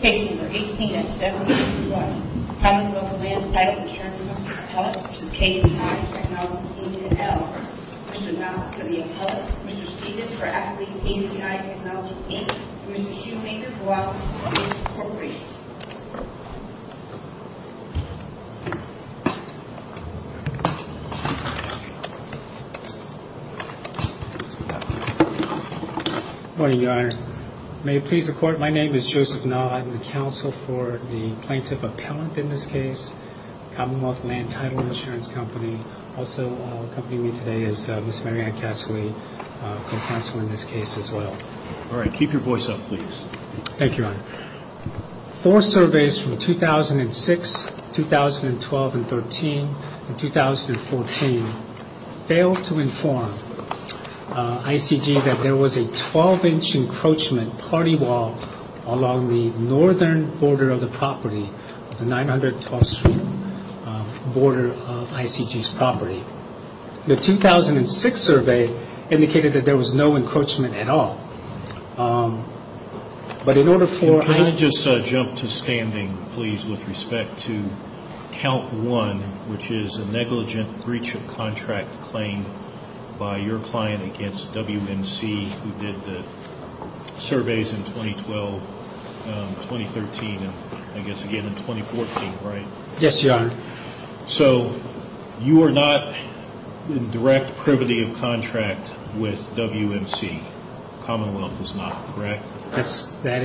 Mr. Malik of the Appellate, Mr. Stegus of KCI Technologies, Inc. and Mr. Schumacher of the Appellate, Inc. Mr. Malik of the Appellate, Mr. Stegus of KCI Technologies, Inc. and Mr. Schumacher of the Appellate, Inc. My name is Joseph Nod. I'm the counsel for the Plaintiff Appellant in this case, Commonwealth Land Title Insurance Company. Also accompanying me today is Ms. Mary Ann Cassaway, co-counsel in this case as well. All right. Keep your voice up, please. Thank you, Your Honor. Four surveys from 2006, 2012 and 2013 and 2014 failed to inform ICG that there was a 12-inch encroachment party wall along the northern border of the property, the 912th Street border of ICG's property. The 2006 survey indicated that there was no encroachment at all. But in order for ICG... Can I just jump to standing, please, with respect to Count 1, which is a negligent breach of contract claim by your client against WMC, who did the surveys in 2012, 2013 and I guess again in 2014, right? Yes, Your Honor. So you are not in direct privity of contract with WMC. Commonwealth is not, correct? That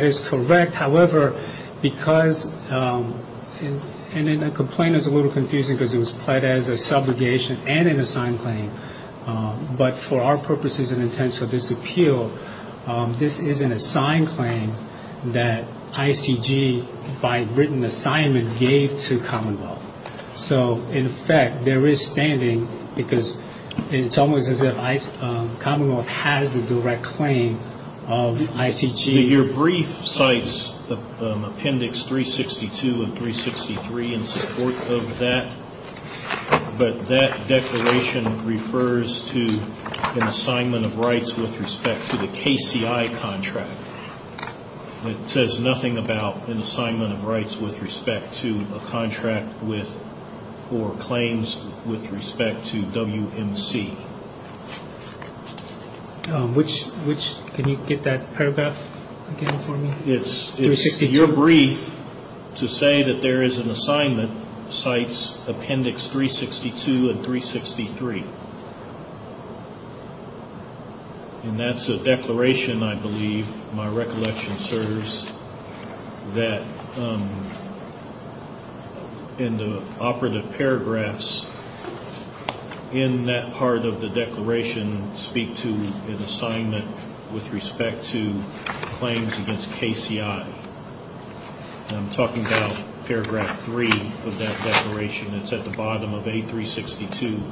is correct. However, because... And the complaint is a little confusing because it was pled as a subrogation and an assigned claim. But for our purposes and intents of this appeal, this is an assigned claim that ICG, by written assignment, gave to Commonwealth. So, in effect, there is standing because it's almost as if Commonwealth has a direct claim of ICG. Your brief cites Appendix 362 and 363 in support of that. But that declaration refers to an assignment of rights with respect to the KCI contract. It says nothing about an assignment of rights with respect to a contract with or claims with respect to WMC. Can you get that paragraph again for me? It's your brief to say that there is an assignment cites Appendix 362 and 363. And that's a declaration, I believe, my recollection serves, that in the operative paragraphs in that part of the declaration speak to an assignment with respect to claims against KCI. I'm talking about paragraph three of that declaration. It's at the bottom of A362.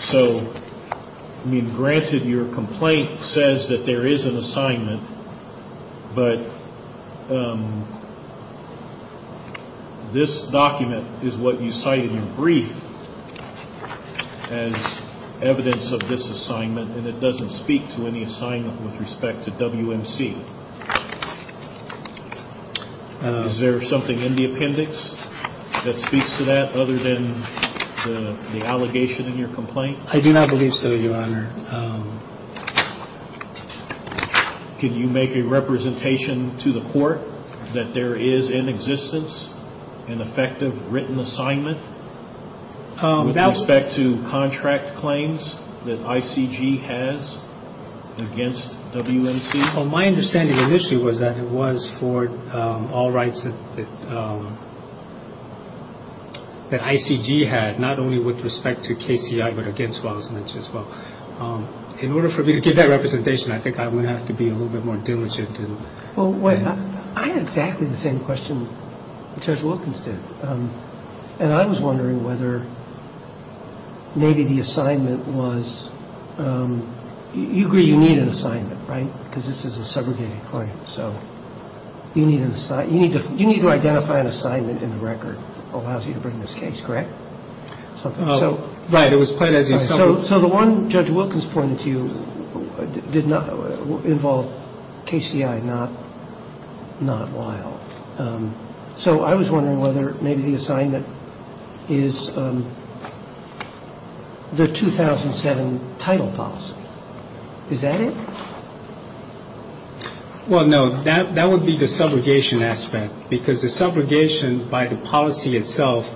So, I mean, granted your complaint says that there is an assignment, but this document is what you cite in your brief as evidence of this assignment and it doesn't speak to any assignment with respect to WMC. Is there something in the appendix that speaks to that other than the allegation in your complaint? I do not believe so, Your Honor. Can you make a representation to the court that there is in existence an effective written assignment with respect to contract claims that ICG has against WMC? Well, my understanding initially was that it was for all rights that ICG had, not only with respect to KCI but against WMC as well. In order for me to give that representation, I think I would have to be a little bit more diligent. Well, I had exactly the same question Judge Wilkins did. And I was wondering whether maybe the assignment was, you agree you need an assignment, right, because this is a segregated claim. You need to identify an assignment in the record that allows you to bring this case, correct? Right, it was put as an assignment. So the one Judge Wilkins pointed to did not involve KCI, not Lyle. So I was wondering whether maybe the assignment is the 2007 title policy. Is that it? Well, no, that would be the subrogation aspect, because the subrogation by the policy itself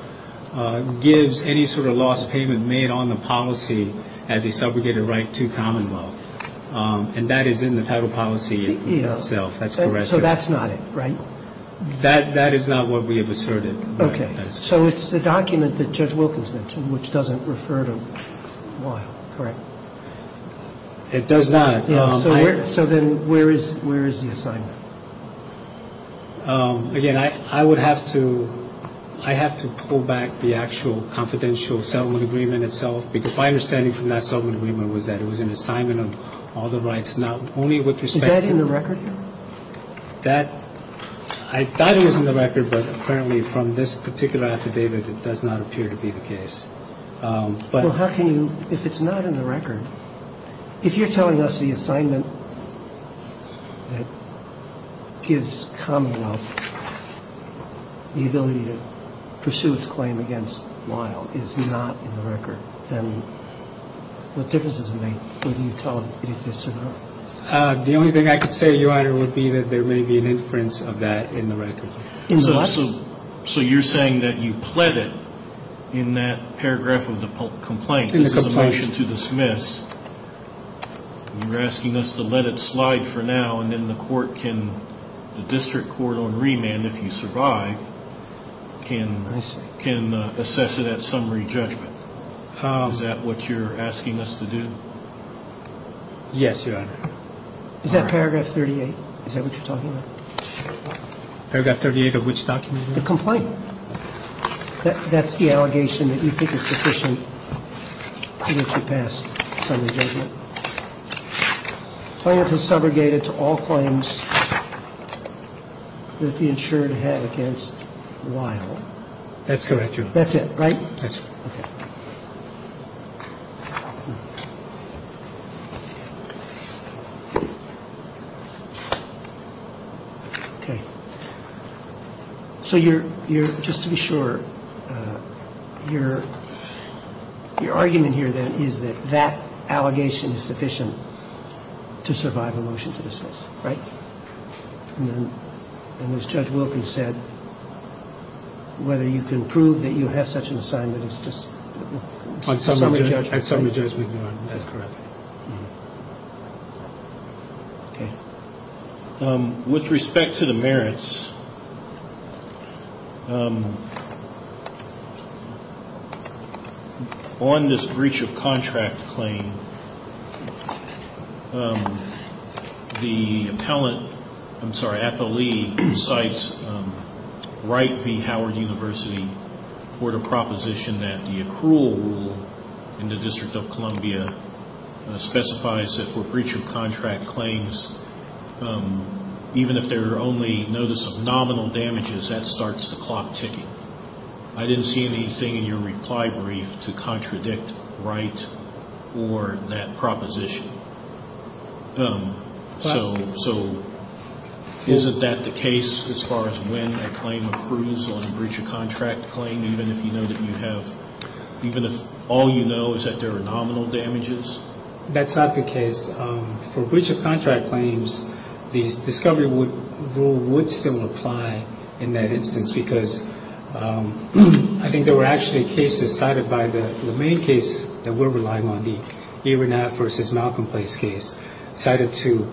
gives any sort of loss payment made on the policy as a subrogated right to common law. And that is in the title policy itself. That's correct. So that's not it, right? That is not what we have asserted. Okay. So it's the document that Judge Wilkins mentioned, which doesn't refer to Lyle, correct? It does not. So then where is the assignment? Again, I would have to pull back the actual confidential settlement agreement itself, because my understanding from that settlement agreement was that it was an assignment of all the rights, not only with respect to. Is that in the record? I thought it was in the record, but apparently from this particular affidavit, it does not appear to be the case. Well, how can you, if it's not in the record, if you're telling us the assignment that gives common law the ability to pursue its claim against Lyle is not in the record, then what difference does it make whether you tell us it exists or not? The only thing I could say, Your Honor, would be that there may be an inference of that in the record. In what? So you're saying that you pled it in that paragraph of the complaint. This is a motion to dismiss. You're asking us to let it slide for now, and then the court can, the district court on remand, if you survive, can assess it at summary judgment. Is that what you're asking us to do? Yes, Your Honor. Is that paragraph 38? Is that what you're talking about? Paragraph 38 of which document? The complaint. That's the allegation that you think is sufficient to get you past summary judgment. Plaintiff is subrogated to all claims that the insured had against Lyle. That's correct, Your Honor. That's it, right? That's it. Okay. So you're, just to be sure, your argument here then is that that allegation is sufficient to survive a motion to dismiss, right? And as Judge Wilkins said, whether you can prove that you have such an assignment is just summary judgment. At summary judgment, Your Honor. That's correct. Okay. With respect to the merits, on this breach of contract claim, the appellate, I'm sorry, even if there are only notice of nominal damages, that starts the clock ticking. I didn't see anything in your reply brief to contradict right or that proposition. So isn't that the case as far as when a claim approves on a breach of contract claim, even if you know that you have, even if all you know is that there are nominal damages? That's not the case. For breach of contract claims, the discovery rule would still apply in that instance, because I think there were actually cases cited by the main case that we're relying on, the Iranat v. Malcolm Place case, cited to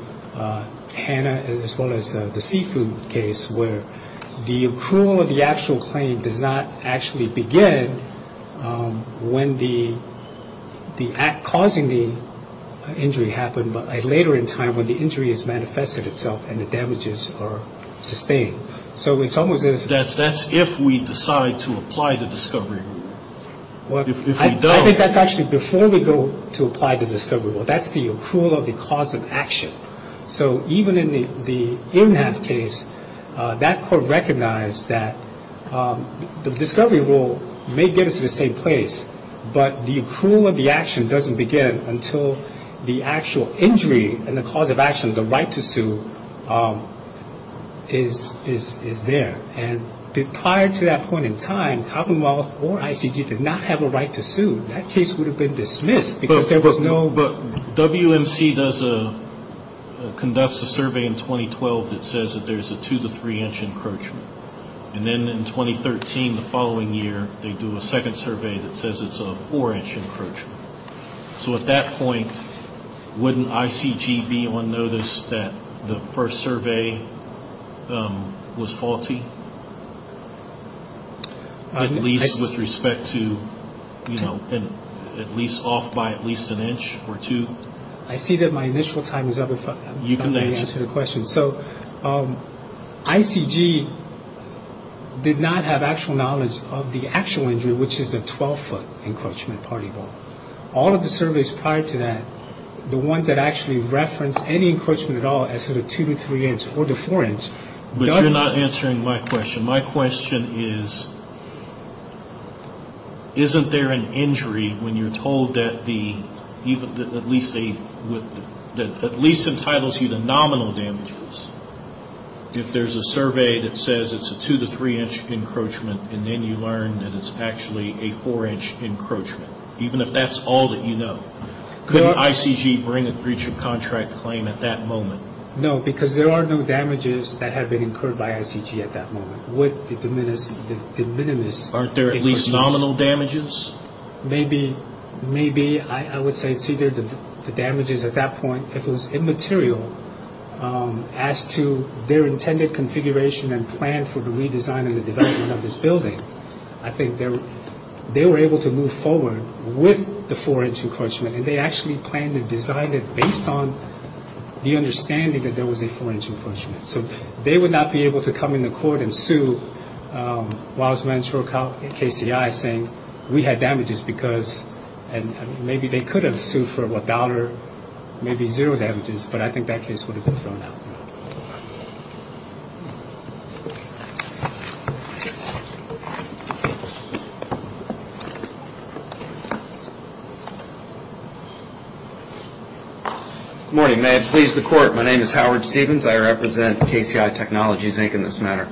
Hannah, as well as the seafood case, where the accrual of the actual claim does not actually begin when the act causing the injury happened, but later in time when the injury has manifested itself and the damages are sustained. So it's almost as if. That's if we decide to apply the discovery rule. I think that's actually before we go to apply the discovery rule. That's the accrual of the cause of action. So even in the Iranat case, that court recognized that the discovery rule may get us to the same place, but the accrual of the action doesn't begin until the actual injury and the cause of action, the right to sue, is there. And prior to that point in time, Commonwealth or ICG did not have a right to sue. That case would have been dismissed because there was no. But WMC does a, conducts a survey in 2012 that says that there's a two to three inch encroachment. And then in 2013, the following year, they do a second survey that says it's a four inch encroachment. So at that point, wouldn't ICG be on notice that the first survey was faulty? At least with respect to, you know, at least off by at least an inch or two. I see that my initial time is up. You can answer the question. So ICG did not have actual knowledge of the actual injury, which is the 12 foot encroachment party ball. All of the surveys prior to that, the ones that actually referenced any encroachment at all as sort of two to three inch or the four inch. But you're not answering my question. My question is, isn't there an injury when you're told that the, at least a, that at least entitles you to nominal damages? If there's a survey that says it's a two to three inch encroachment, and then you learn that it's actually a four inch encroachment, even if that's all that you know. Couldn't ICG bring a breach of contract claim at that moment? No, because there are no damages that have been incurred by ICG at that moment. With the de minimis. Aren't there at least nominal damages? Maybe. Maybe. I would say it's either the damages at that point. If it was immaterial as to their intended configuration and plan for the redesign and the development of this building, I think they were able to move forward with the four inch encroachment. And they actually planned and designed it based on the understanding that there was a four inch encroachment. So they would not be able to come into court and sue Wiles-Manchur, KCI, saying we had damages because, and maybe they could have sued for a dollar, maybe zero damages, but I think that case would have been thrown out. Good morning. May it please the court. My name is Howard Stevens. I represent KCI Technologies, Inc. in this matter.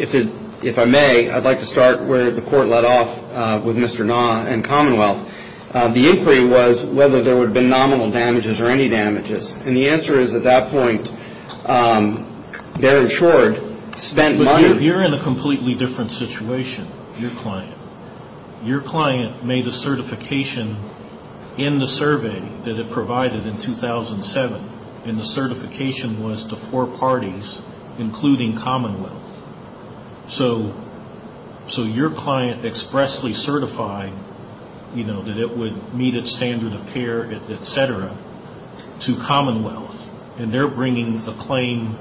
If I may, I'd like to start where the court led off with Mr. Na and Commonwealth. The inquiry was whether there would have been nominal damages or any damages. And the answer is at that point, bear in short, spent money. But you're in a completely different situation, your client. Your client made a certification in the survey that it provided in 2007, and the certification was to four parties, including Commonwealth. So your client expressly certified, you know, that it would meet its standard of care, et cetera, to Commonwealth. And they're bringing the claim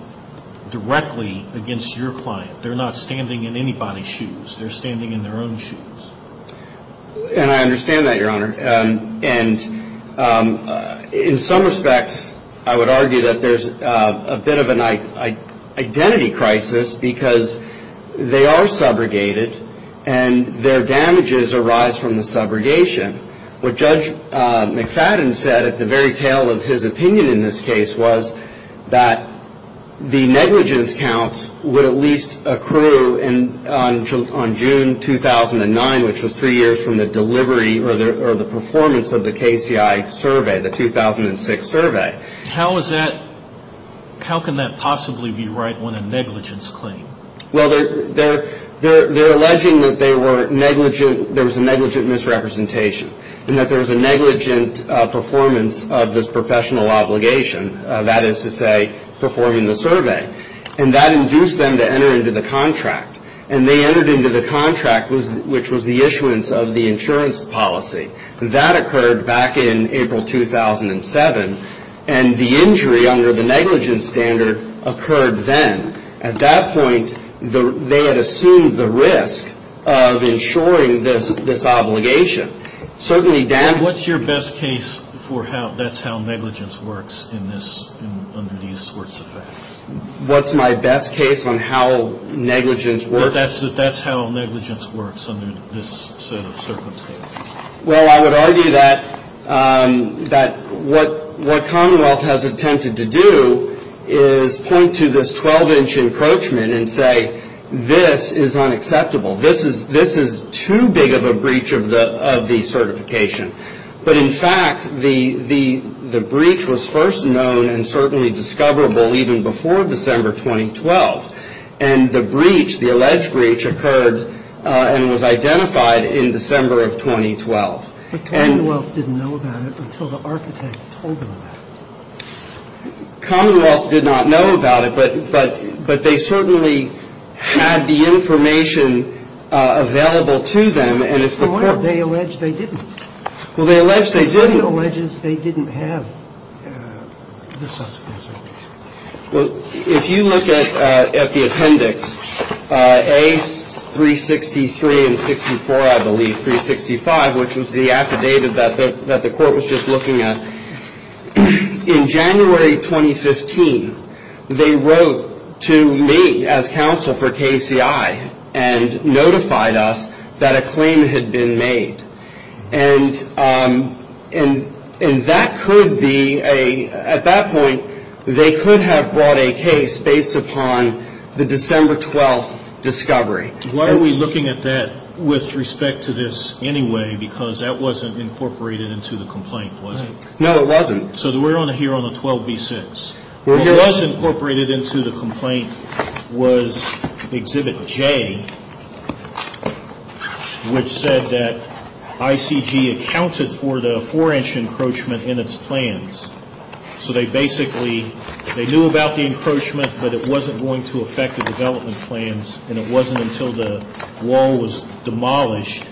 directly against your client. They're not standing in anybody's shoes. They're standing in their own shoes. And I understand that, Your Honor. And in some respects, I would argue that there's a bit of an identity crisis because they are subrogated, and their damages arise from the subrogation. What Judge McFadden said at the very tail of his opinion in this case was that the negligence counts would at least accrue on June 2009, which was three years from the delivery or the performance of the KCI survey, the 2006 survey. How can that possibly be right when a negligence claim? Well, they're alleging that there was a negligent misrepresentation and that there was a negligent performance of this professional obligation, that is to say, performing the survey. And that induced them to enter into the contract. And they entered into the contract, which was the issuance of the insurance policy. That occurred back in April 2007. And the injury under the negligence standard occurred then. At that point, they had assumed the risk of insuring this obligation. What's your best case for how that's how negligence works under these sorts of facts? What's my best case on how negligence works? That's how negligence works under this sort of circumstance. Well, I would argue that what Commonwealth has attempted to do is point to this 12-inch encroachment and say, this is unacceptable. This is too big of a breach of the certification. But, in fact, the breach was first known and certainly discoverable even before December 2012. And the breach, the alleged breach, occurred and was identified in December of 2012. But Commonwealth didn't know about it until the architect told them about it. Commonwealth did not know about it. But they certainly had the information available to them. And if the court ---- Well, why did they allege they didn't? Well, they allege they didn't. The court alleges they didn't have this sort of information. Well, if you look at the appendix, A363 and 64, I believe, 365, which was the affidavit that the court was just looking at, in January 2015, they wrote to me as counsel for KCI and notified us that a claim had been made. And that could be a ---- at that point, they could have brought a case based upon the December 12 discovery. Why are we looking at that with respect to this anyway? Because that wasn't incorporated into the complaint, was it? No, it wasn't. So we're here on the 12B6. What was incorporated into the complaint was Exhibit J, which said that ICG accounted for the 4-inch encroachment in its plans. So they basically ---- they knew about the encroachment, but it wasn't going to affect the development plans and it wasn't until the wall was demolished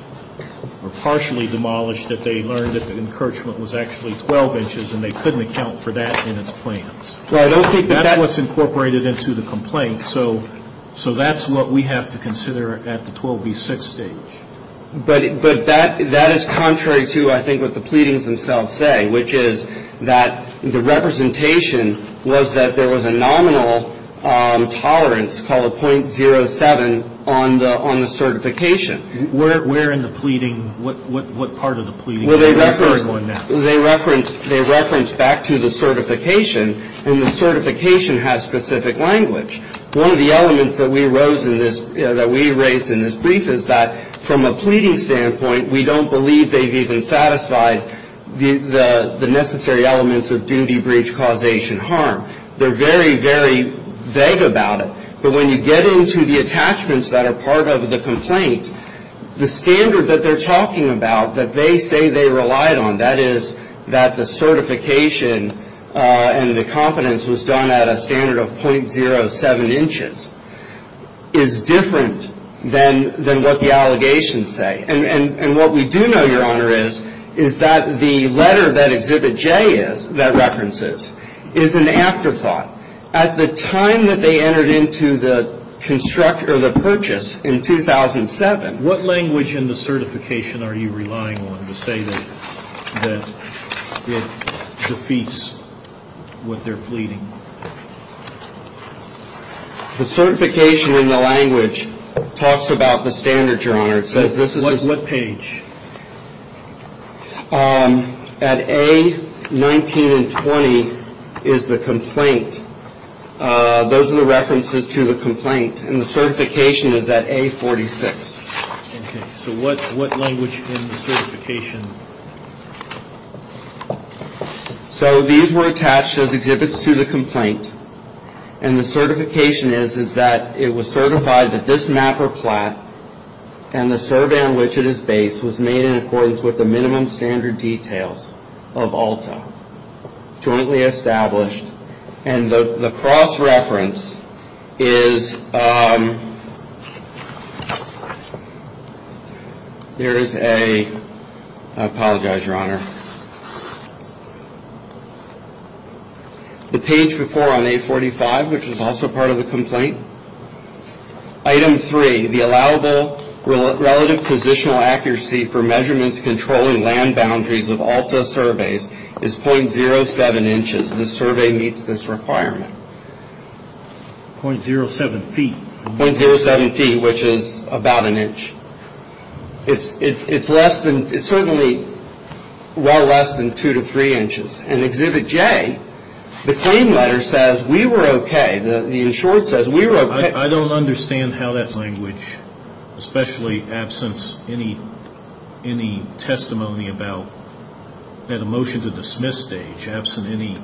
or partially demolished that they learned that the encroachment was actually 12 inches and they couldn't account for that in its plans. Well, I don't think that that's ---- That's what's incorporated into the complaint. So that's what we have to consider at the 12B6 stage. But that is contrary to, I think, what the pleadings themselves say, which is that the representation was that there was a nominal tolerance called 0.07 on the certification. Where in the pleading ---- what part of the pleading ---- Well, they referenced back to the certification, and the certification has specific language. One of the elements that we rose in this ---- that we raised in this brief is that from a pleading standpoint, we don't believe they've even satisfied the necessary elements of duty, breach, causation, harm. They're very, very vague about it. But when you get into the attachments that are part of the complaint, the standard that they're talking about that they say they relied on, that is that the certification and the confidence was done at a standard of 0.07 inches, is different than what the allegations say. And what we do know, Your Honor, is that the letter that Exhibit J is, that references, is an afterthought. At the time that they entered into the purchase in 2007 ---- What language in the certification are you relying on to say that it defeats what they're pleading? The certification in the language talks about the standard, Your Honor. What page? At A19 and 20 is the complaint. Those are the references to the complaint, and the certification is at A46. Okay. So what language in the certification? And the certification is that it was certified that this map or plat and the survey on which it is based was made in accordance with the minimum standard details of ALTA, jointly established. And the cross-reference is ---- There is a ---- I apologize, Your Honor. The page before on A45, which is also part of the complaint. Item 3, the allowable relative positional accuracy for measurements controlling land boundaries of ALTA surveys is 0.07 inches. This survey meets this requirement. 0.07 feet. 0.07 feet, which is about an inch. It's less than, it's certainly well less than two to three inches. And Exhibit J, the claim letter says we were okay. The insured says we were okay. I don't understand how that language, especially absence any testimony about that emotion to dismiss stage, absent any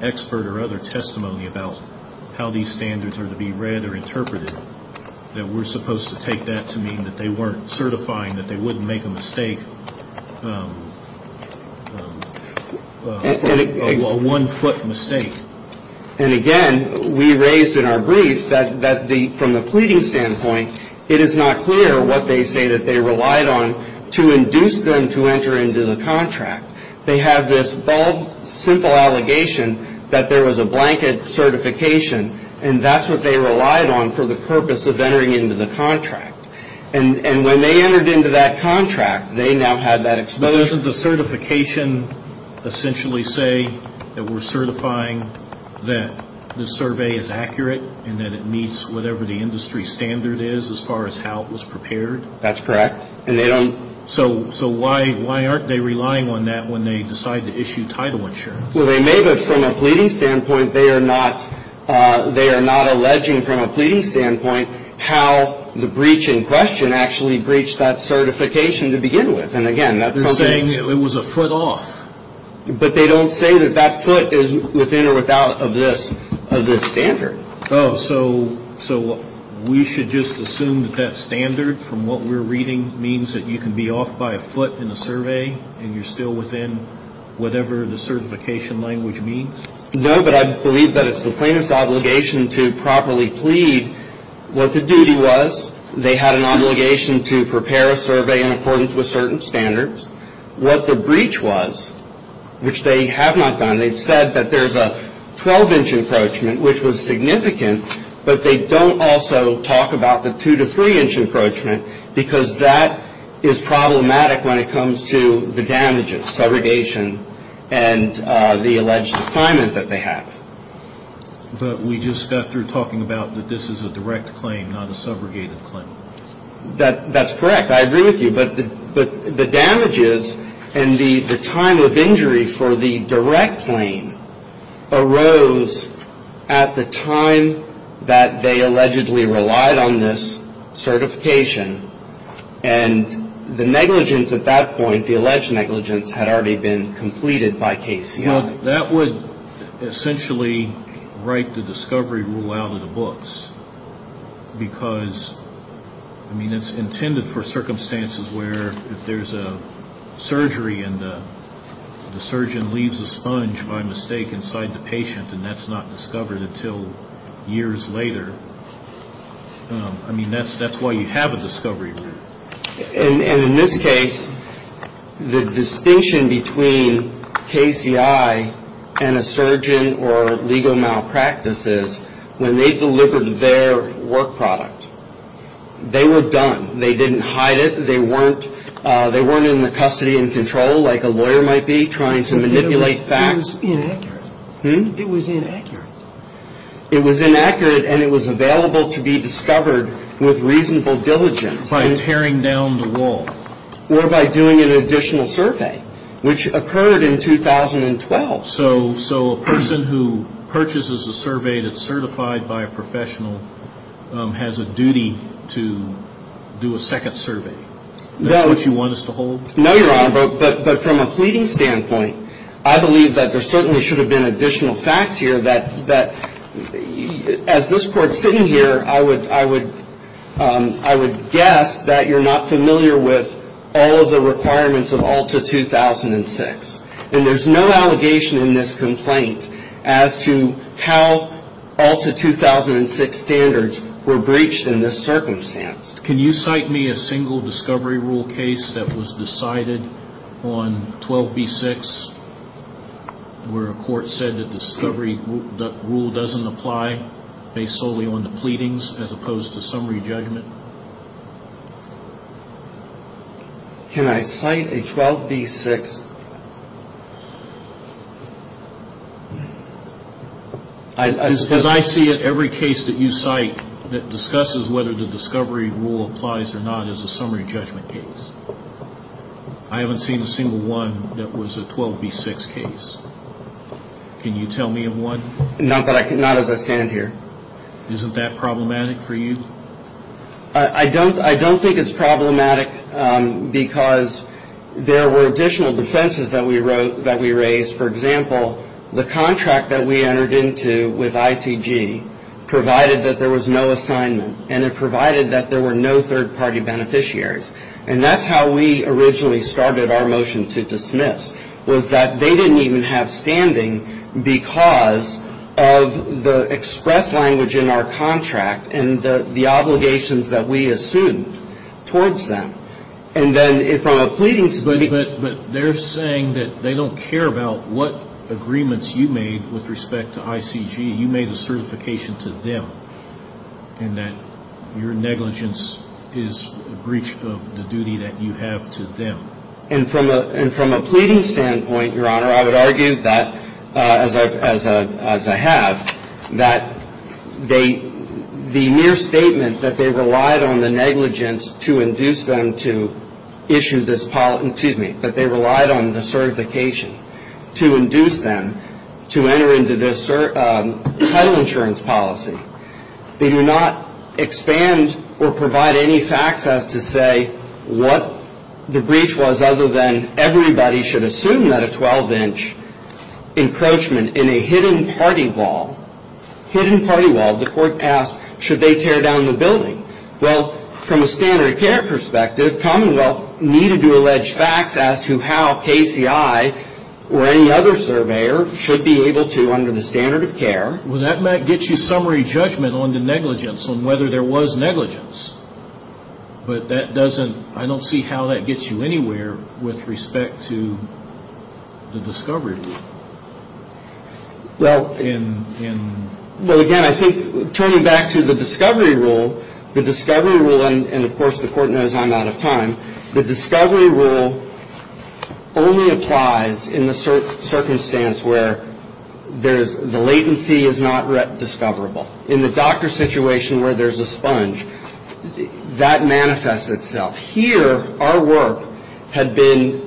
expert or other testimony about how these standards are to be read or interpreted, that we're supposed to take that to mean that they weren't certifying that they wouldn't make a mistake, a one-foot mistake. And again, we raised in our brief that from the pleading standpoint, it is not clear what they say that they relied on to induce them to enter into the contract. They have this bold, simple allegation that there was a blanket certification, and that's what they relied on for the purpose of entering into the contract. And when they entered into that contract, they now had that exposure. But doesn't the certification essentially say that we're certifying that the survey is accurate and that it meets whatever the industry standard is as far as how it was prepared? That's correct. So why aren't they relying on that when they decide to issue title insurance? Well, they may, but from a pleading standpoint, they are not alleging from a pleading standpoint how the breach in question actually breached that certification to begin with. And again, that's something. You're saying it was a foot off. But they don't say that that foot is within or without of this standard. Oh, so we should just assume that that standard from what we're reading means that you can be off by a foot in a survey and you're still within whatever the certification language means? No, but I believe that it's the plaintiff's obligation to properly plead what the duty was. They had an obligation to prepare a survey in accordance with certain standards. What the breach was, which they have not done, they've said that there's a 12-inch encroachment, which was significant, but they don't also talk about the 2- to 3-inch encroachment because that is problematic when it comes to the damages, subrogation and the alleged assignment that they have. But we just got through talking about that this is a direct claim, not a subrogated claim. That's correct. I agree with you. But the damages and the time of injury for the direct claim arose at the time that they allegedly relied on this certification. And the negligence at that point, the alleged negligence, had already been completed by KCI. Well, that would essentially write the discovery rule out of the books because, I mean, it's intended for circumstances where if there's a surgery and the surgeon leaves a sponge, by mistake, inside the patient and that's not discovered until years later, I mean, that's why you have a discovery rule. And in this case, the distinction between KCI and a surgeon or legal malpractice is when they delivered their work product, they were done. They didn't hide it. They weren't in the custody and control like a lawyer might be trying to manipulate facts. It was inaccurate. It was inaccurate and it was available to be discovered with reasonable diligence. By tearing down the wall. Or by doing an additional survey, which occurred in 2012. So a person who purchases a survey that's certified by a professional has a duty to do a second survey. That's what you want us to hold? No, Your Honor. But from a pleading standpoint, I believe that there certainly should have been additional facts here that as this Court's sitting here, I would guess that you're not familiar with all of the requirements of ALTA 2006. And there's no allegation in this complaint as to how ALTA 2006 standards were breached in this circumstance. Can you cite me a single discovery rule case that was decided on 12B6 where a court said the discovery rule doesn't apply based solely on the pleadings as opposed to summary judgment? Can I cite a 12B6? As I see it, every case that you cite that discusses whether the discovery rule applies or not is a summary judgment case. I haven't seen a single one that was a 12B6 case. Can you tell me of one? Not as I stand here. Isn't that problematic for you? I don't think it's problematic because there were additional defenses that we raised. For example, the contract that we entered into with ICG provided that there was no assignment and it provided that there were no third-party beneficiaries. And that's how we originally started our motion to dismiss was that they didn't even have standing because of the express language in our contract and the obligations that we assumed towards them. And then from a pleading standpoint, But they're saying that they don't care about what agreements you made with respect to ICG. You made a certification to them and that your negligence is a breach of the duty that you have to them. And from a pleading standpoint, Your Honor, I would argue that, as I have, that the mere statement that they relied on the negligence to induce them to issue this policy, excuse me, that they relied on the certification to induce them to enter into this title insurance policy, they do not expand or provide any facts as to say what the breach was other than everybody should assume that a 12-inch encroachment in a hidden party wall, hidden party wall, the court asked, should they tear down the building? Well, from a standard of care perspective, Commonwealth needed to allege facts as to how KCI or any other surveyor should be able to under the standard of care. Well, that might get you summary judgment on the negligence, on whether there was negligence. But that doesn't, I don't see how that gets you anywhere with respect to the discovery rule. Well, again, I think turning back to the discovery rule, the discovery rule, and of course the court knows I'm out of time, the discovery rule only applies in the circumstance where the latency is not discoverable. In the doctor situation where there's a sponge, that manifests itself. Here, our work had been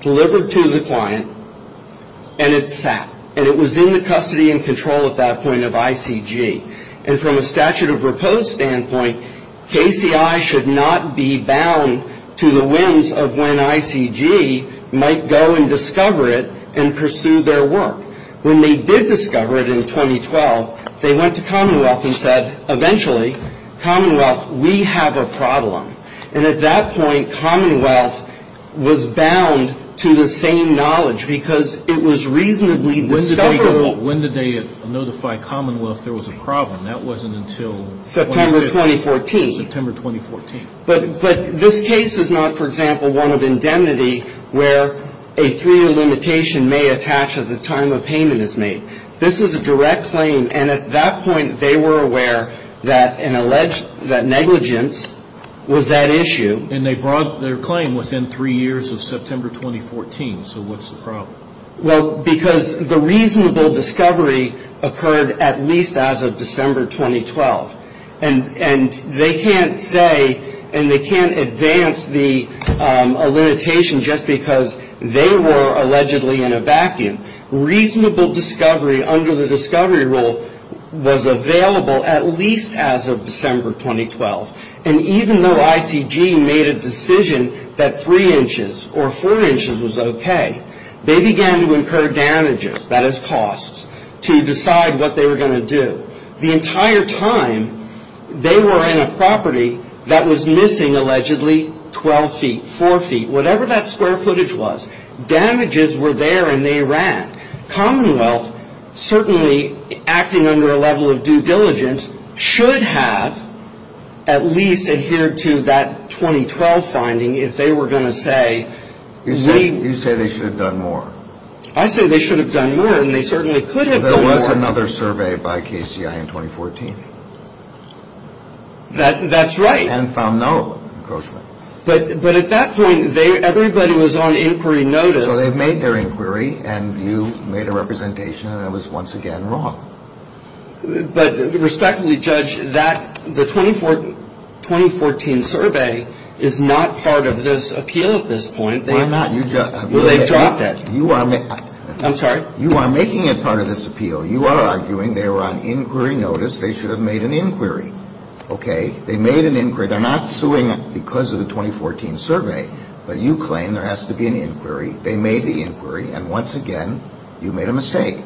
delivered to the client and it sat. And it was in the custody and control at that point of ICG. And from a statute of repose standpoint, KCI should not be bound to the whims of when ICG might go and discover it and pursue their work. When they did discover it in 2012, they went to Commonwealth and said, eventually, Commonwealth, we have a problem. And at that point, Commonwealth was bound to the same knowledge because it was reasonably discoverable. But when did they notify Commonwealth there was a problem? That wasn't until 2012. September 2014. September 2014. But this case is not, for example, one of indemnity where a three-year limitation may attach at the time a payment is made. This is a direct claim. And at that point, they were aware that negligence was that issue. And they brought their claim within three years of September 2014. So what's the problem? Well, because the reasonable discovery occurred at least as of December 2012. And they can't say and they can't advance the limitation just because they were allegedly in a vacuum. Reasonable discovery under the discovery rule was available at least as of December 2012. And even though ICG made a decision that three inches or four inches was okay, they began to incur damages, that is costs, to decide what they were going to do. The entire time, they were in a property that was missing allegedly 12 feet, 4 feet, whatever that square footage was. Damages were there and they ran. Commonwealth, certainly acting under a level of due diligence, should have at least adhered to that 2012 finding if they were going to say we You say they should have done more. I say they should have done more and they certainly could have done more. There was another survey by KCI in 2014. That's right. And found no encroachment. But at that point, everybody was on inquiry notice. So they made their inquiry and you made a representation and it was once again wrong. But respectfully, Judge, the 2014 survey is not part of this appeal at this point. Well, I'm not. Well, they dropped it. I'm sorry? You are making it part of this appeal. You are arguing they were on inquiry notice. They should have made an inquiry. Okay? They made an inquiry. They're not suing because of the 2014 survey. But you claim there has to be an inquiry. They made the inquiry and once again, you made a mistake.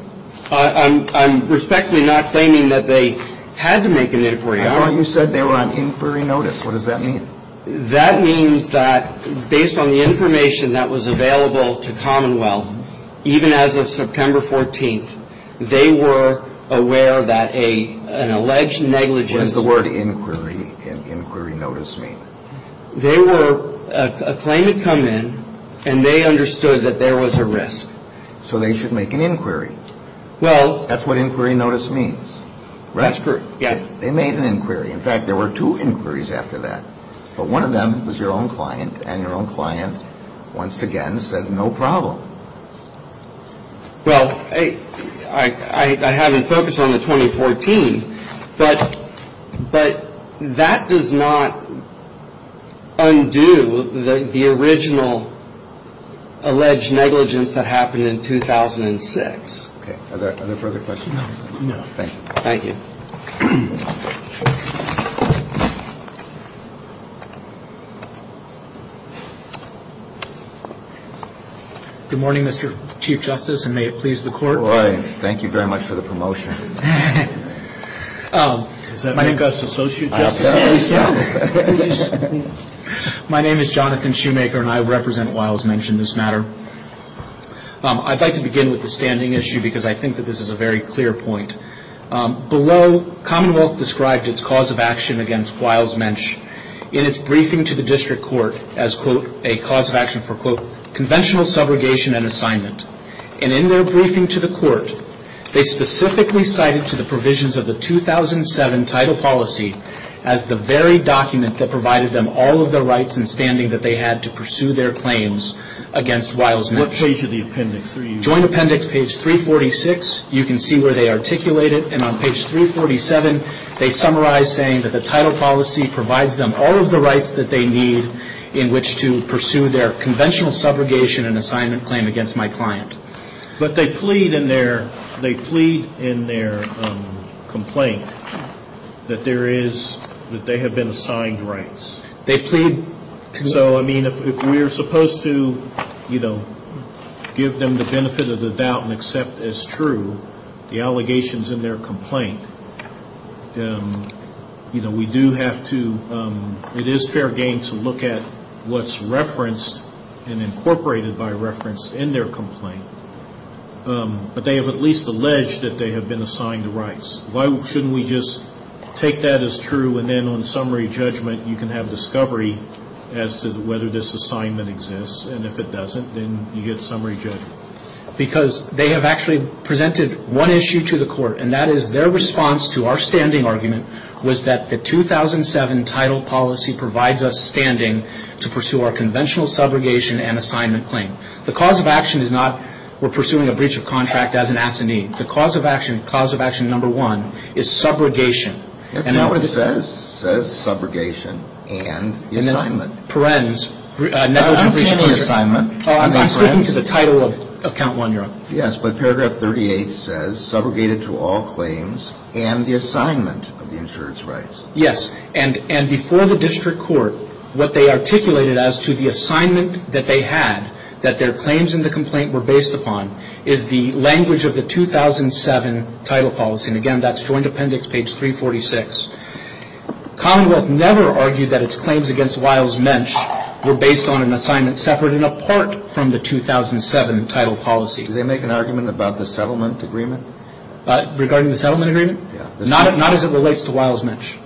I'm respectfully not claiming that they had to make an inquiry. I thought you said they were on inquiry notice. What does that mean? That means that based on the information that was available to Commonwealth, even as of September 14th, they were aware that an alleged negligence. What does the word inquiry and inquiry notice mean? They were a claim had come in and they understood that there was a risk. So they should make an inquiry. Well. That's what inquiry notice means. That's correct. Yeah. They made an inquiry. In fact, there were two inquiries after that. But one of them was your own client. And your own client once again said no problem. Well, I haven't focused on the 2014. But that does not undo the original alleged negligence that happened in 2006. Okay. Are there further questions? No. Thank you. Thank you. Good morning, Mr. Chief Justice, and may it please the Court. Good morning. Thank you very much for the promotion. My name is Jonathan Shoemaker, and I represent Wiles mentioned this matter. I'd like to begin with the standing issue because I think that this is a very clear point. Below, Commonwealth described its cause of action against Wiles Mensch in its briefing to the district court as, quote, a cause of action for, quote, conventional subrogation and assignment. And in their briefing to the court, they specifically cited to the provisions of the 2007 title policy as the very document that provided them all of the rights and standing that they had to pursue their claims against Wiles Mensch. What page of the appendix are you on? Joint appendix, page 346. You can see where they articulate it, and on page 347, they summarize saying that the title policy provides them all of the rights that they need in which to pursue their conventional subrogation and assignment claim against my client. But they plead in their complaint that there is, that they have been assigned rights. They plead. So, I mean, if we are supposed to, you know, give them the benefit of the doubt and accept as true the allegations in their complaint, you know, we do have to, it is fair game to look at what's referenced and incorporated by reference in their complaint. But they have at least alleged that they have been assigned the rights. Why shouldn't we just take that as true and then on summary judgment you can have discovery as to whether this assignment exists, and if it doesn't, then you get summary judgment? Because they have actually presented one issue to the court, and that is their response to our standing argument was that the 2007 title policy provides us standing to pursue our conventional subrogation and assignment claim. The cause of action is not we're pursuing a breach of contract as an assignee. The cause of action, cause of action number one, is subrogation. That's not what it says. It says subrogation and the assignment. And then perens, negligent breach of contract. I'm speaking to the title of count one, Your Honor. Yes, but paragraph 38 says subrogated to all claims and the assignment of the insurance rights. Yes, and before the district court, what they articulated as to the assignment that they had, that their claims in the complaint were based upon, is the language of the 2007 title policy. And again, that's joint appendix page 346. Commonwealth never argued that its claims against Wiles-Mensch were based on an assignment separate and apart from the 2007 title policy. Did they make an argument about the settlement agreement? Regarding the settlement agreement? Yeah. Not as it relates to Wiles-Mensch.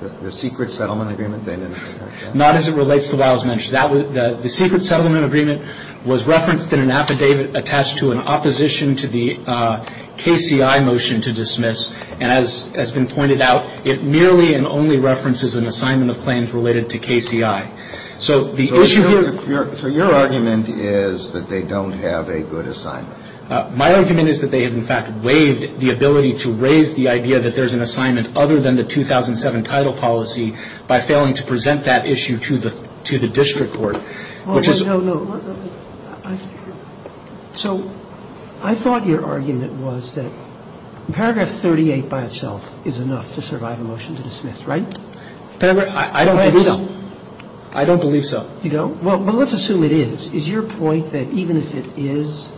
The secret settlement agreement they didn't? Not as it relates to Wiles-Mensch. The secret settlement agreement was referenced in an affidavit attached to an opposition to the KCI motion to dismiss. And as has been pointed out, it merely and only references an assignment of claims related to KCI. So the issue here? So your argument is that they don't have a good assignment? My argument is that they have, in fact, waived the ability to raise the idea that there's an assignment other than the 2007 title policy by failing to present that issue to the district court. No, no, no. So I thought your argument was that paragraph 38 by itself is enough to survive a motion to dismiss, right? I don't believe so. I don't believe so. You don't? Well, let's assume it is. Is your point that even if it is,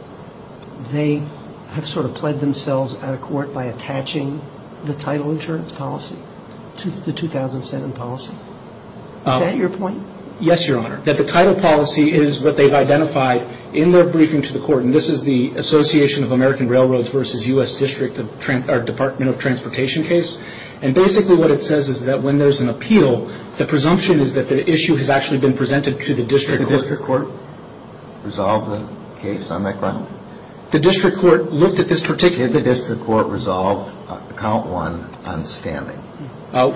they have sort of pled themselves at a court by attaching the title insurance policy to the 2007 policy? Is that your point? Yes, Your Honor. That the title policy is what they've identified in their briefing to the court, and this is the Association of American Railroads v. U.S. Department of Transportation case. And basically what it says is that when there's an appeal, the presumption is that the issue has actually been presented to the district court. Did the district court resolve the case on that ground? The district court looked at this particularly... Did the district court resolve count one on standing?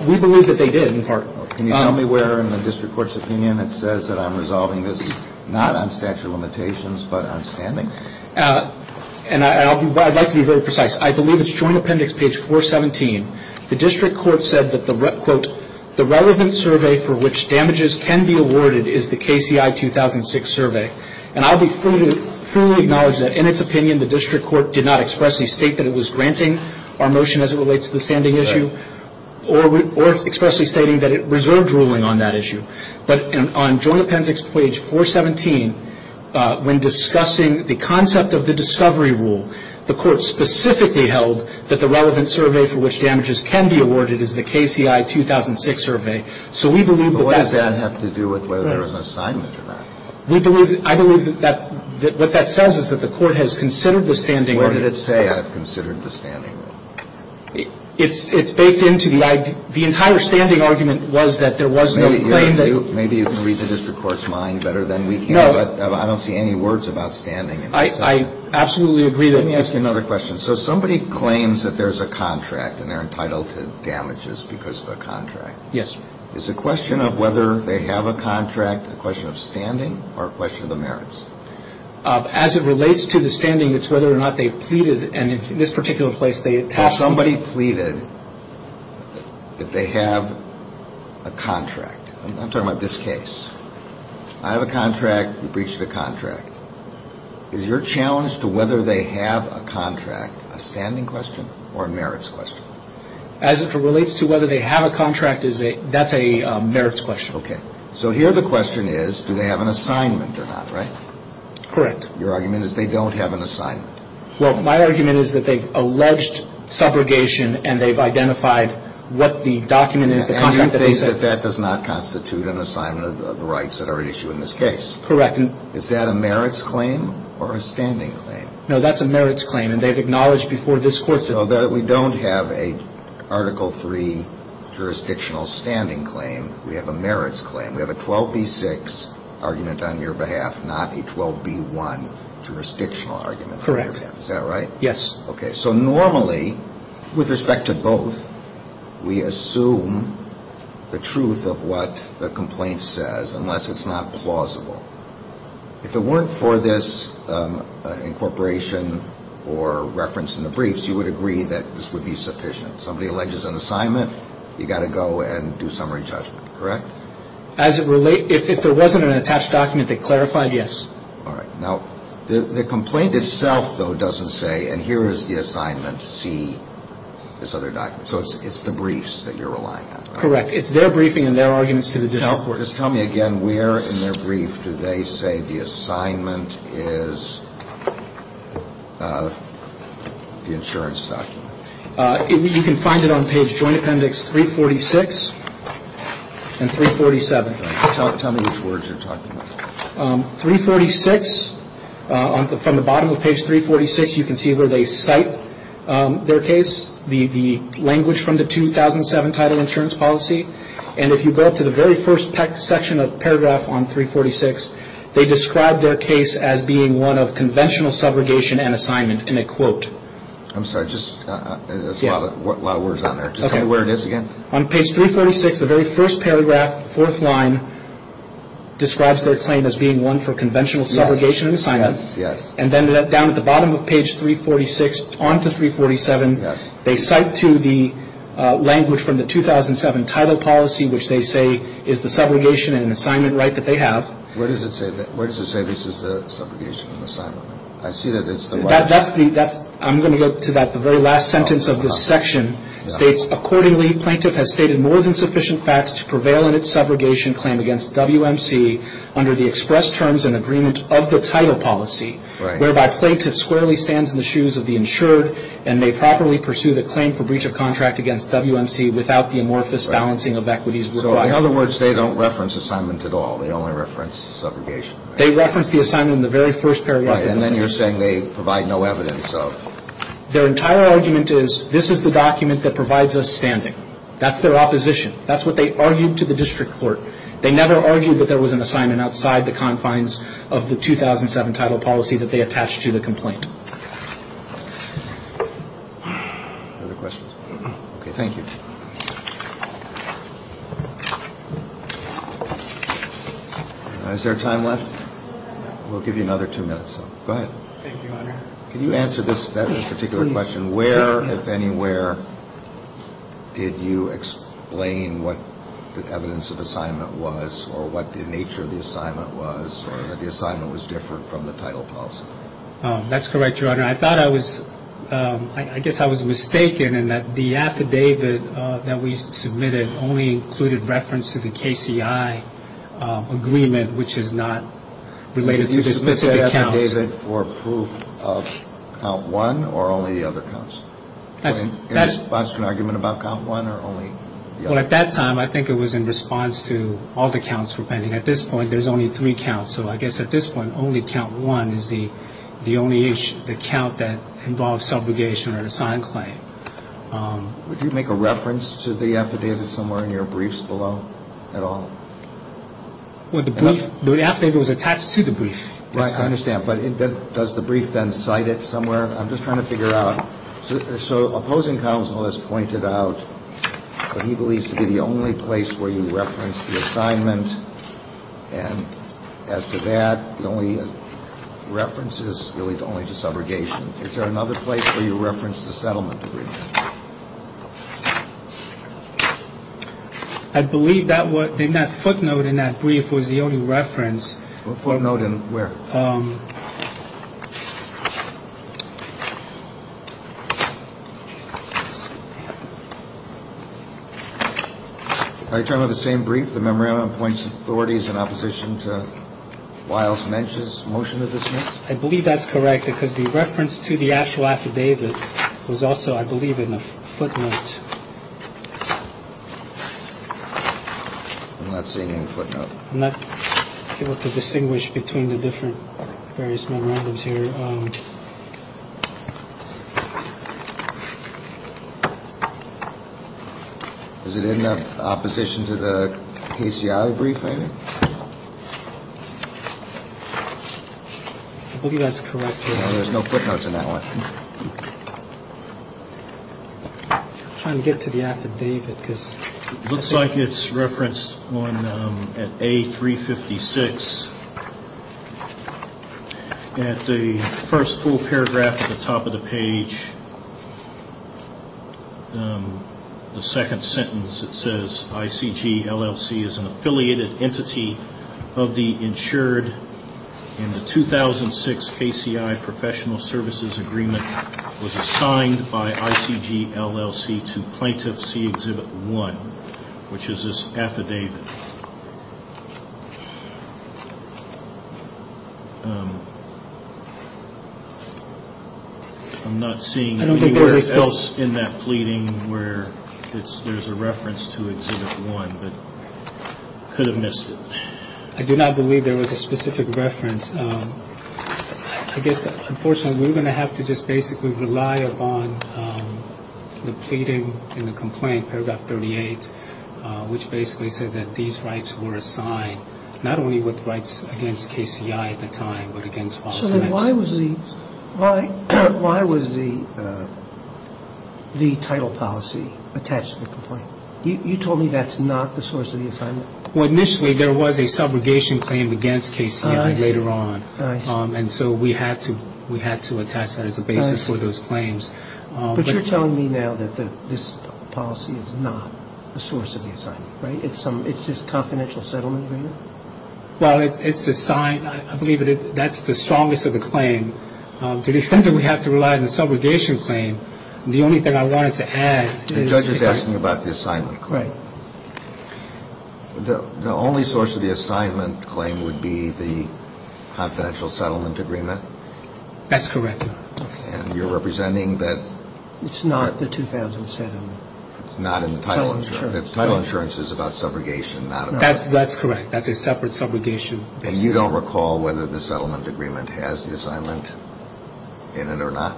We believe that they did, in part. Can you tell me where in the district court's opinion it says that I'm resolving this not on statute of limitations but on standing? And I'd like to be very precise. I believe it's joint appendix page 417. The district court said that the, quote, the relevant survey for which damages can be awarded is the KCI 2006 survey. And I'll be free to fully acknowledge that in its opinion, the district court did not expressly state that it was granting our motion as it relates to the standing issue or expressly stating that it reserved ruling on that issue. But on joint appendix page 417, when discussing the concept of the discovery rule, the court specifically held that the relevant survey for which damages can be awarded is the KCI 2006 survey. So we believe that that... But what does that have to do with whether there was an assignment or not? We believe... I believe that that... What that says is that the court has considered the standing... Where did it say I've considered the standing? It's... It's... It's baked into the... The entire standing argument was that there was no claim that... Maybe... Maybe you can read the district court's mind better than we can. No. I don't see any words about standing. I absolutely agree that... Let me ask you another question. So somebody claims that there's a contract and they're entitled to damages because of a contract. Yes. Is the question of whether they have a contract a question of standing or a question of the merits? As it relates to the standing, it's whether or not they've pleaded. And in this particular place, they... Somebody pleaded that they have a contract. I'm talking about this case. I have a contract. You breach the contract. Is your challenge to whether they have a contract a standing question or a merits question? As it relates to whether they have a contract, that's a merits question. Okay. So here the question is do they have an assignment or not, right? Correct. Your argument is they don't have an assignment. Well, my argument is that they've alleged subrogation and they've identified what the document is, the contract that they said... And you think that that does not constitute an assignment of the rights that are at issue in this case? Correct. Is that a merits claim or a standing claim? No, that's a merits claim. And they've acknowledged before this court... So we don't have a Article III jurisdictional standing claim. We have a merits claim. We have a 12b-6 argument on your behalf, not a 12b-1 jurisdictional argument on your behalf. Correct. Yes. Okay, so normally with respect to both, we assume the truth of what the complaint says unless it's not plausible. If it weren't for this incorporation or reference in the briefs, you would agree that this would be sufficient. Somebody alleges an assignment, you've got to go and do summary judgment, correct? As it relates... if there wasn't an attached document that clarified, yes. All right. Now, the complaint itself, though, doesn't say, and here is the assignment, see this other document. So it's the briefs that you're relying on, right? Correct. It's their briefing and their arguments to the district court. Now, just tell me again, where in their brief do they say the assignment is the insurance document? You can find it on page joint appendix 346 and 347. All right. Tell me which words you're talking about. 346, from the bottom of page 346, you can see where they cite their case, the language from the 2007 title insurance policy. And if you go up to the very first section of paragraph on 346, they describe their case as being one of conventional subrogation and assignment in a quote. I'm sorry. There's a lot of words on there. Just tell me where it is again. On page 346, the very first paragraph, fourth line, describes their claim as being one for conventional subrogation and assignment. Yes. And then down at the bottom of page 346 on to 347, they cite to the language from the 2007 title policy, which they say is the subrogation and assignment right that they have. Where does it say this is the subrogation and assignment? I see that it's the one. I'm going to go to the very last sentence of this section. It states, accordingly, plaintiff has stated more than sufficient facts to prevail in its subrogation claim against WMC under the express terms and agreement of the title policy, whereby plaintiff squarely stands in the shoes of the insured and may properly pursue the claim for breach of contract against WMC without the amorphous balancing of equities. So in other words, they don't reference assignment at all. They only reference subrogation. They reference the assignment in the very first paragraph. And then you're saying they provide no evidence of. Their entire argument is this is the document that provides us standing. That's their opposition. That's what they argued to the district court. They never argued that there was an assignment outside the confines of the 2007 title policy that they attached to the complaint. Other questions? Okay. Thank you. Is there time left? We'll give you another two minutes. Go ahead. Thank you, Your Honor. Can you answer this particular question? Where, if anywhere, did you explain what the evidence of assignment was or what the nature of the assignment was or that the assignment was different from the title policy? That's correct, Your Honor. I thought I was, I guess I was mistaken in that the affidavit that we submitted only included reference to the KCI agreement, which is not related to this specific account. Did you submit the affidavit for proof of count one or only the other counts? That's. In response to an argument about count one or only the other? Well, at that time, I think it was in response to all the counts we're pending. At this point, there's only three counts. So I guess at this point, only count one is the only issue, the count that involves subrogation or an assigned claim. Would you make a reference to the affidavit somewhere in your briefs below at all? Well, the brief, the affidavit was attached to the brief. Right, I understand. But does the brief then cite it somewhere? I'm just trying to figure out. So opposing counsel has pointed out that he believes to be the only place where you reference the assignment. And as to that, the only reference is really only to subrogation. Is there another place where you reference the settlement? I believe that what in that footnote in that brief was the only reference. Footnote in where? I turn with the same brief. The memorandum points authorities in opposition to Wiles mentions motion to dismiss. I believe that's correct, because the reference to the actual affidavit was also, I believe, in a footnote. Let's see. I'm not able to distinguish between the different various memorandums here. Is it in opposition to the brief? I believe that's correct. There's no footnotes in that one. I'm trying to get to the affidavit because it looks like it's referenced at a three fifty six. At the first full paragraph at the top of the page, the second sentence, it says ICGLLC is an affiliated entity of the insured in the 2006 KCI professional services agreement was assigned by ICGLLC to plaintiff C Exhibit 1, which is this affidavit. I'm not seeing anywhere else in that pleading where there's a reference to Exhibit 1, but could have missed it. I do not believe there was a specific reference. I guess, unfortunately, we're going to have to just basically rely upon the pleading in the complaint, which basically said that these rights were assigned not only with rights against KCI at the time, but against. So why was the why? Why was the the title policy attached to the complaint? You told me that's not the source of the assignment. Well, initially there was a subrogation claim against Casey later on. And so we had to we had to attach that as a basis for those claims. But you're telling me now that this policy is not the source of the assignment, right? It's some it's just confidential settlement. Well, it's a sign. I believe that's the strongest of the claim. To the extent that we have to rely on the subrogation claim. The only thing I wanted to add is that you're asking about the assignment claim. The only source of the assignment claim would be the confidential settlement agreement. That's correct. And you're representing that. It's not the 2007. It's not in the title insurance. The title insurance is about subrogation. That's that's correct. That's a separate subrogation. And you don't recall whether the settlement agreement has the assignment in it or not?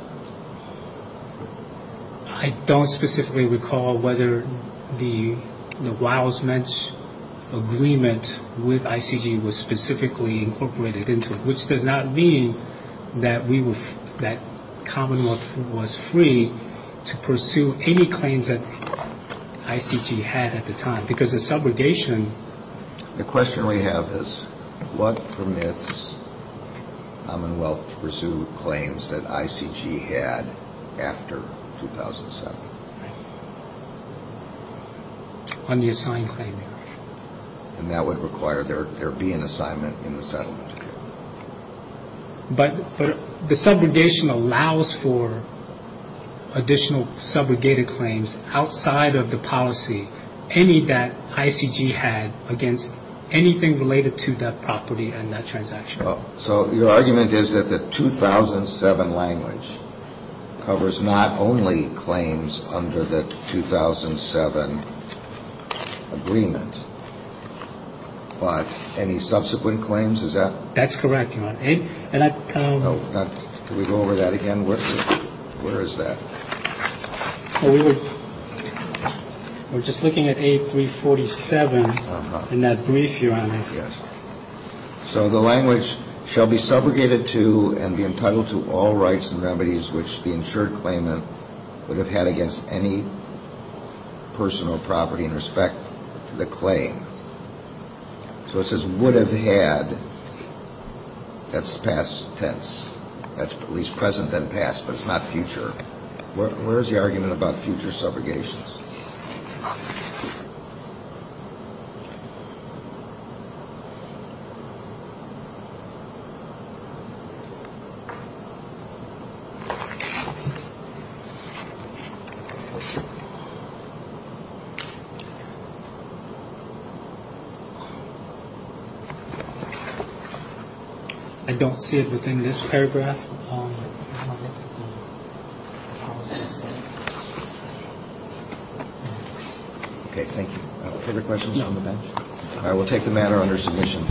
I don't specifically recall whether the Riles-Mensch agreement with ICG was specifically incorporated into it, which does not mean that Commonwealth was free to pursue any claims that ICG had at the time. Because the subrogation. The question we have is what permits Commonwealth to pursue claims that ICG had after 2007? On the assigned claim. And that would require there be an assignment in the settlement. But the subrogation allows for additional subrogated claims outside of the policy. Any that ICG had against anything related to that property and that transaction. So your argument is that the 2007 language covers not only claims under the 2007 agreement, but any subsequent claims? Is that? That's correct. Can we go over that again? Where is that? We were just looking at A347 in that brief here. Yes. So the language shall be subrogated to and be entitled to all rights and remedies which the insured claimant would have had against any personal property in respect to the claim. So it says would have had. That's past tense. That's at least present and past, but it's not future. Where's the argument about future subrogations? I don't see it within this paragraph. OK, thank you for the questions on the bench. I will take the matter under submission.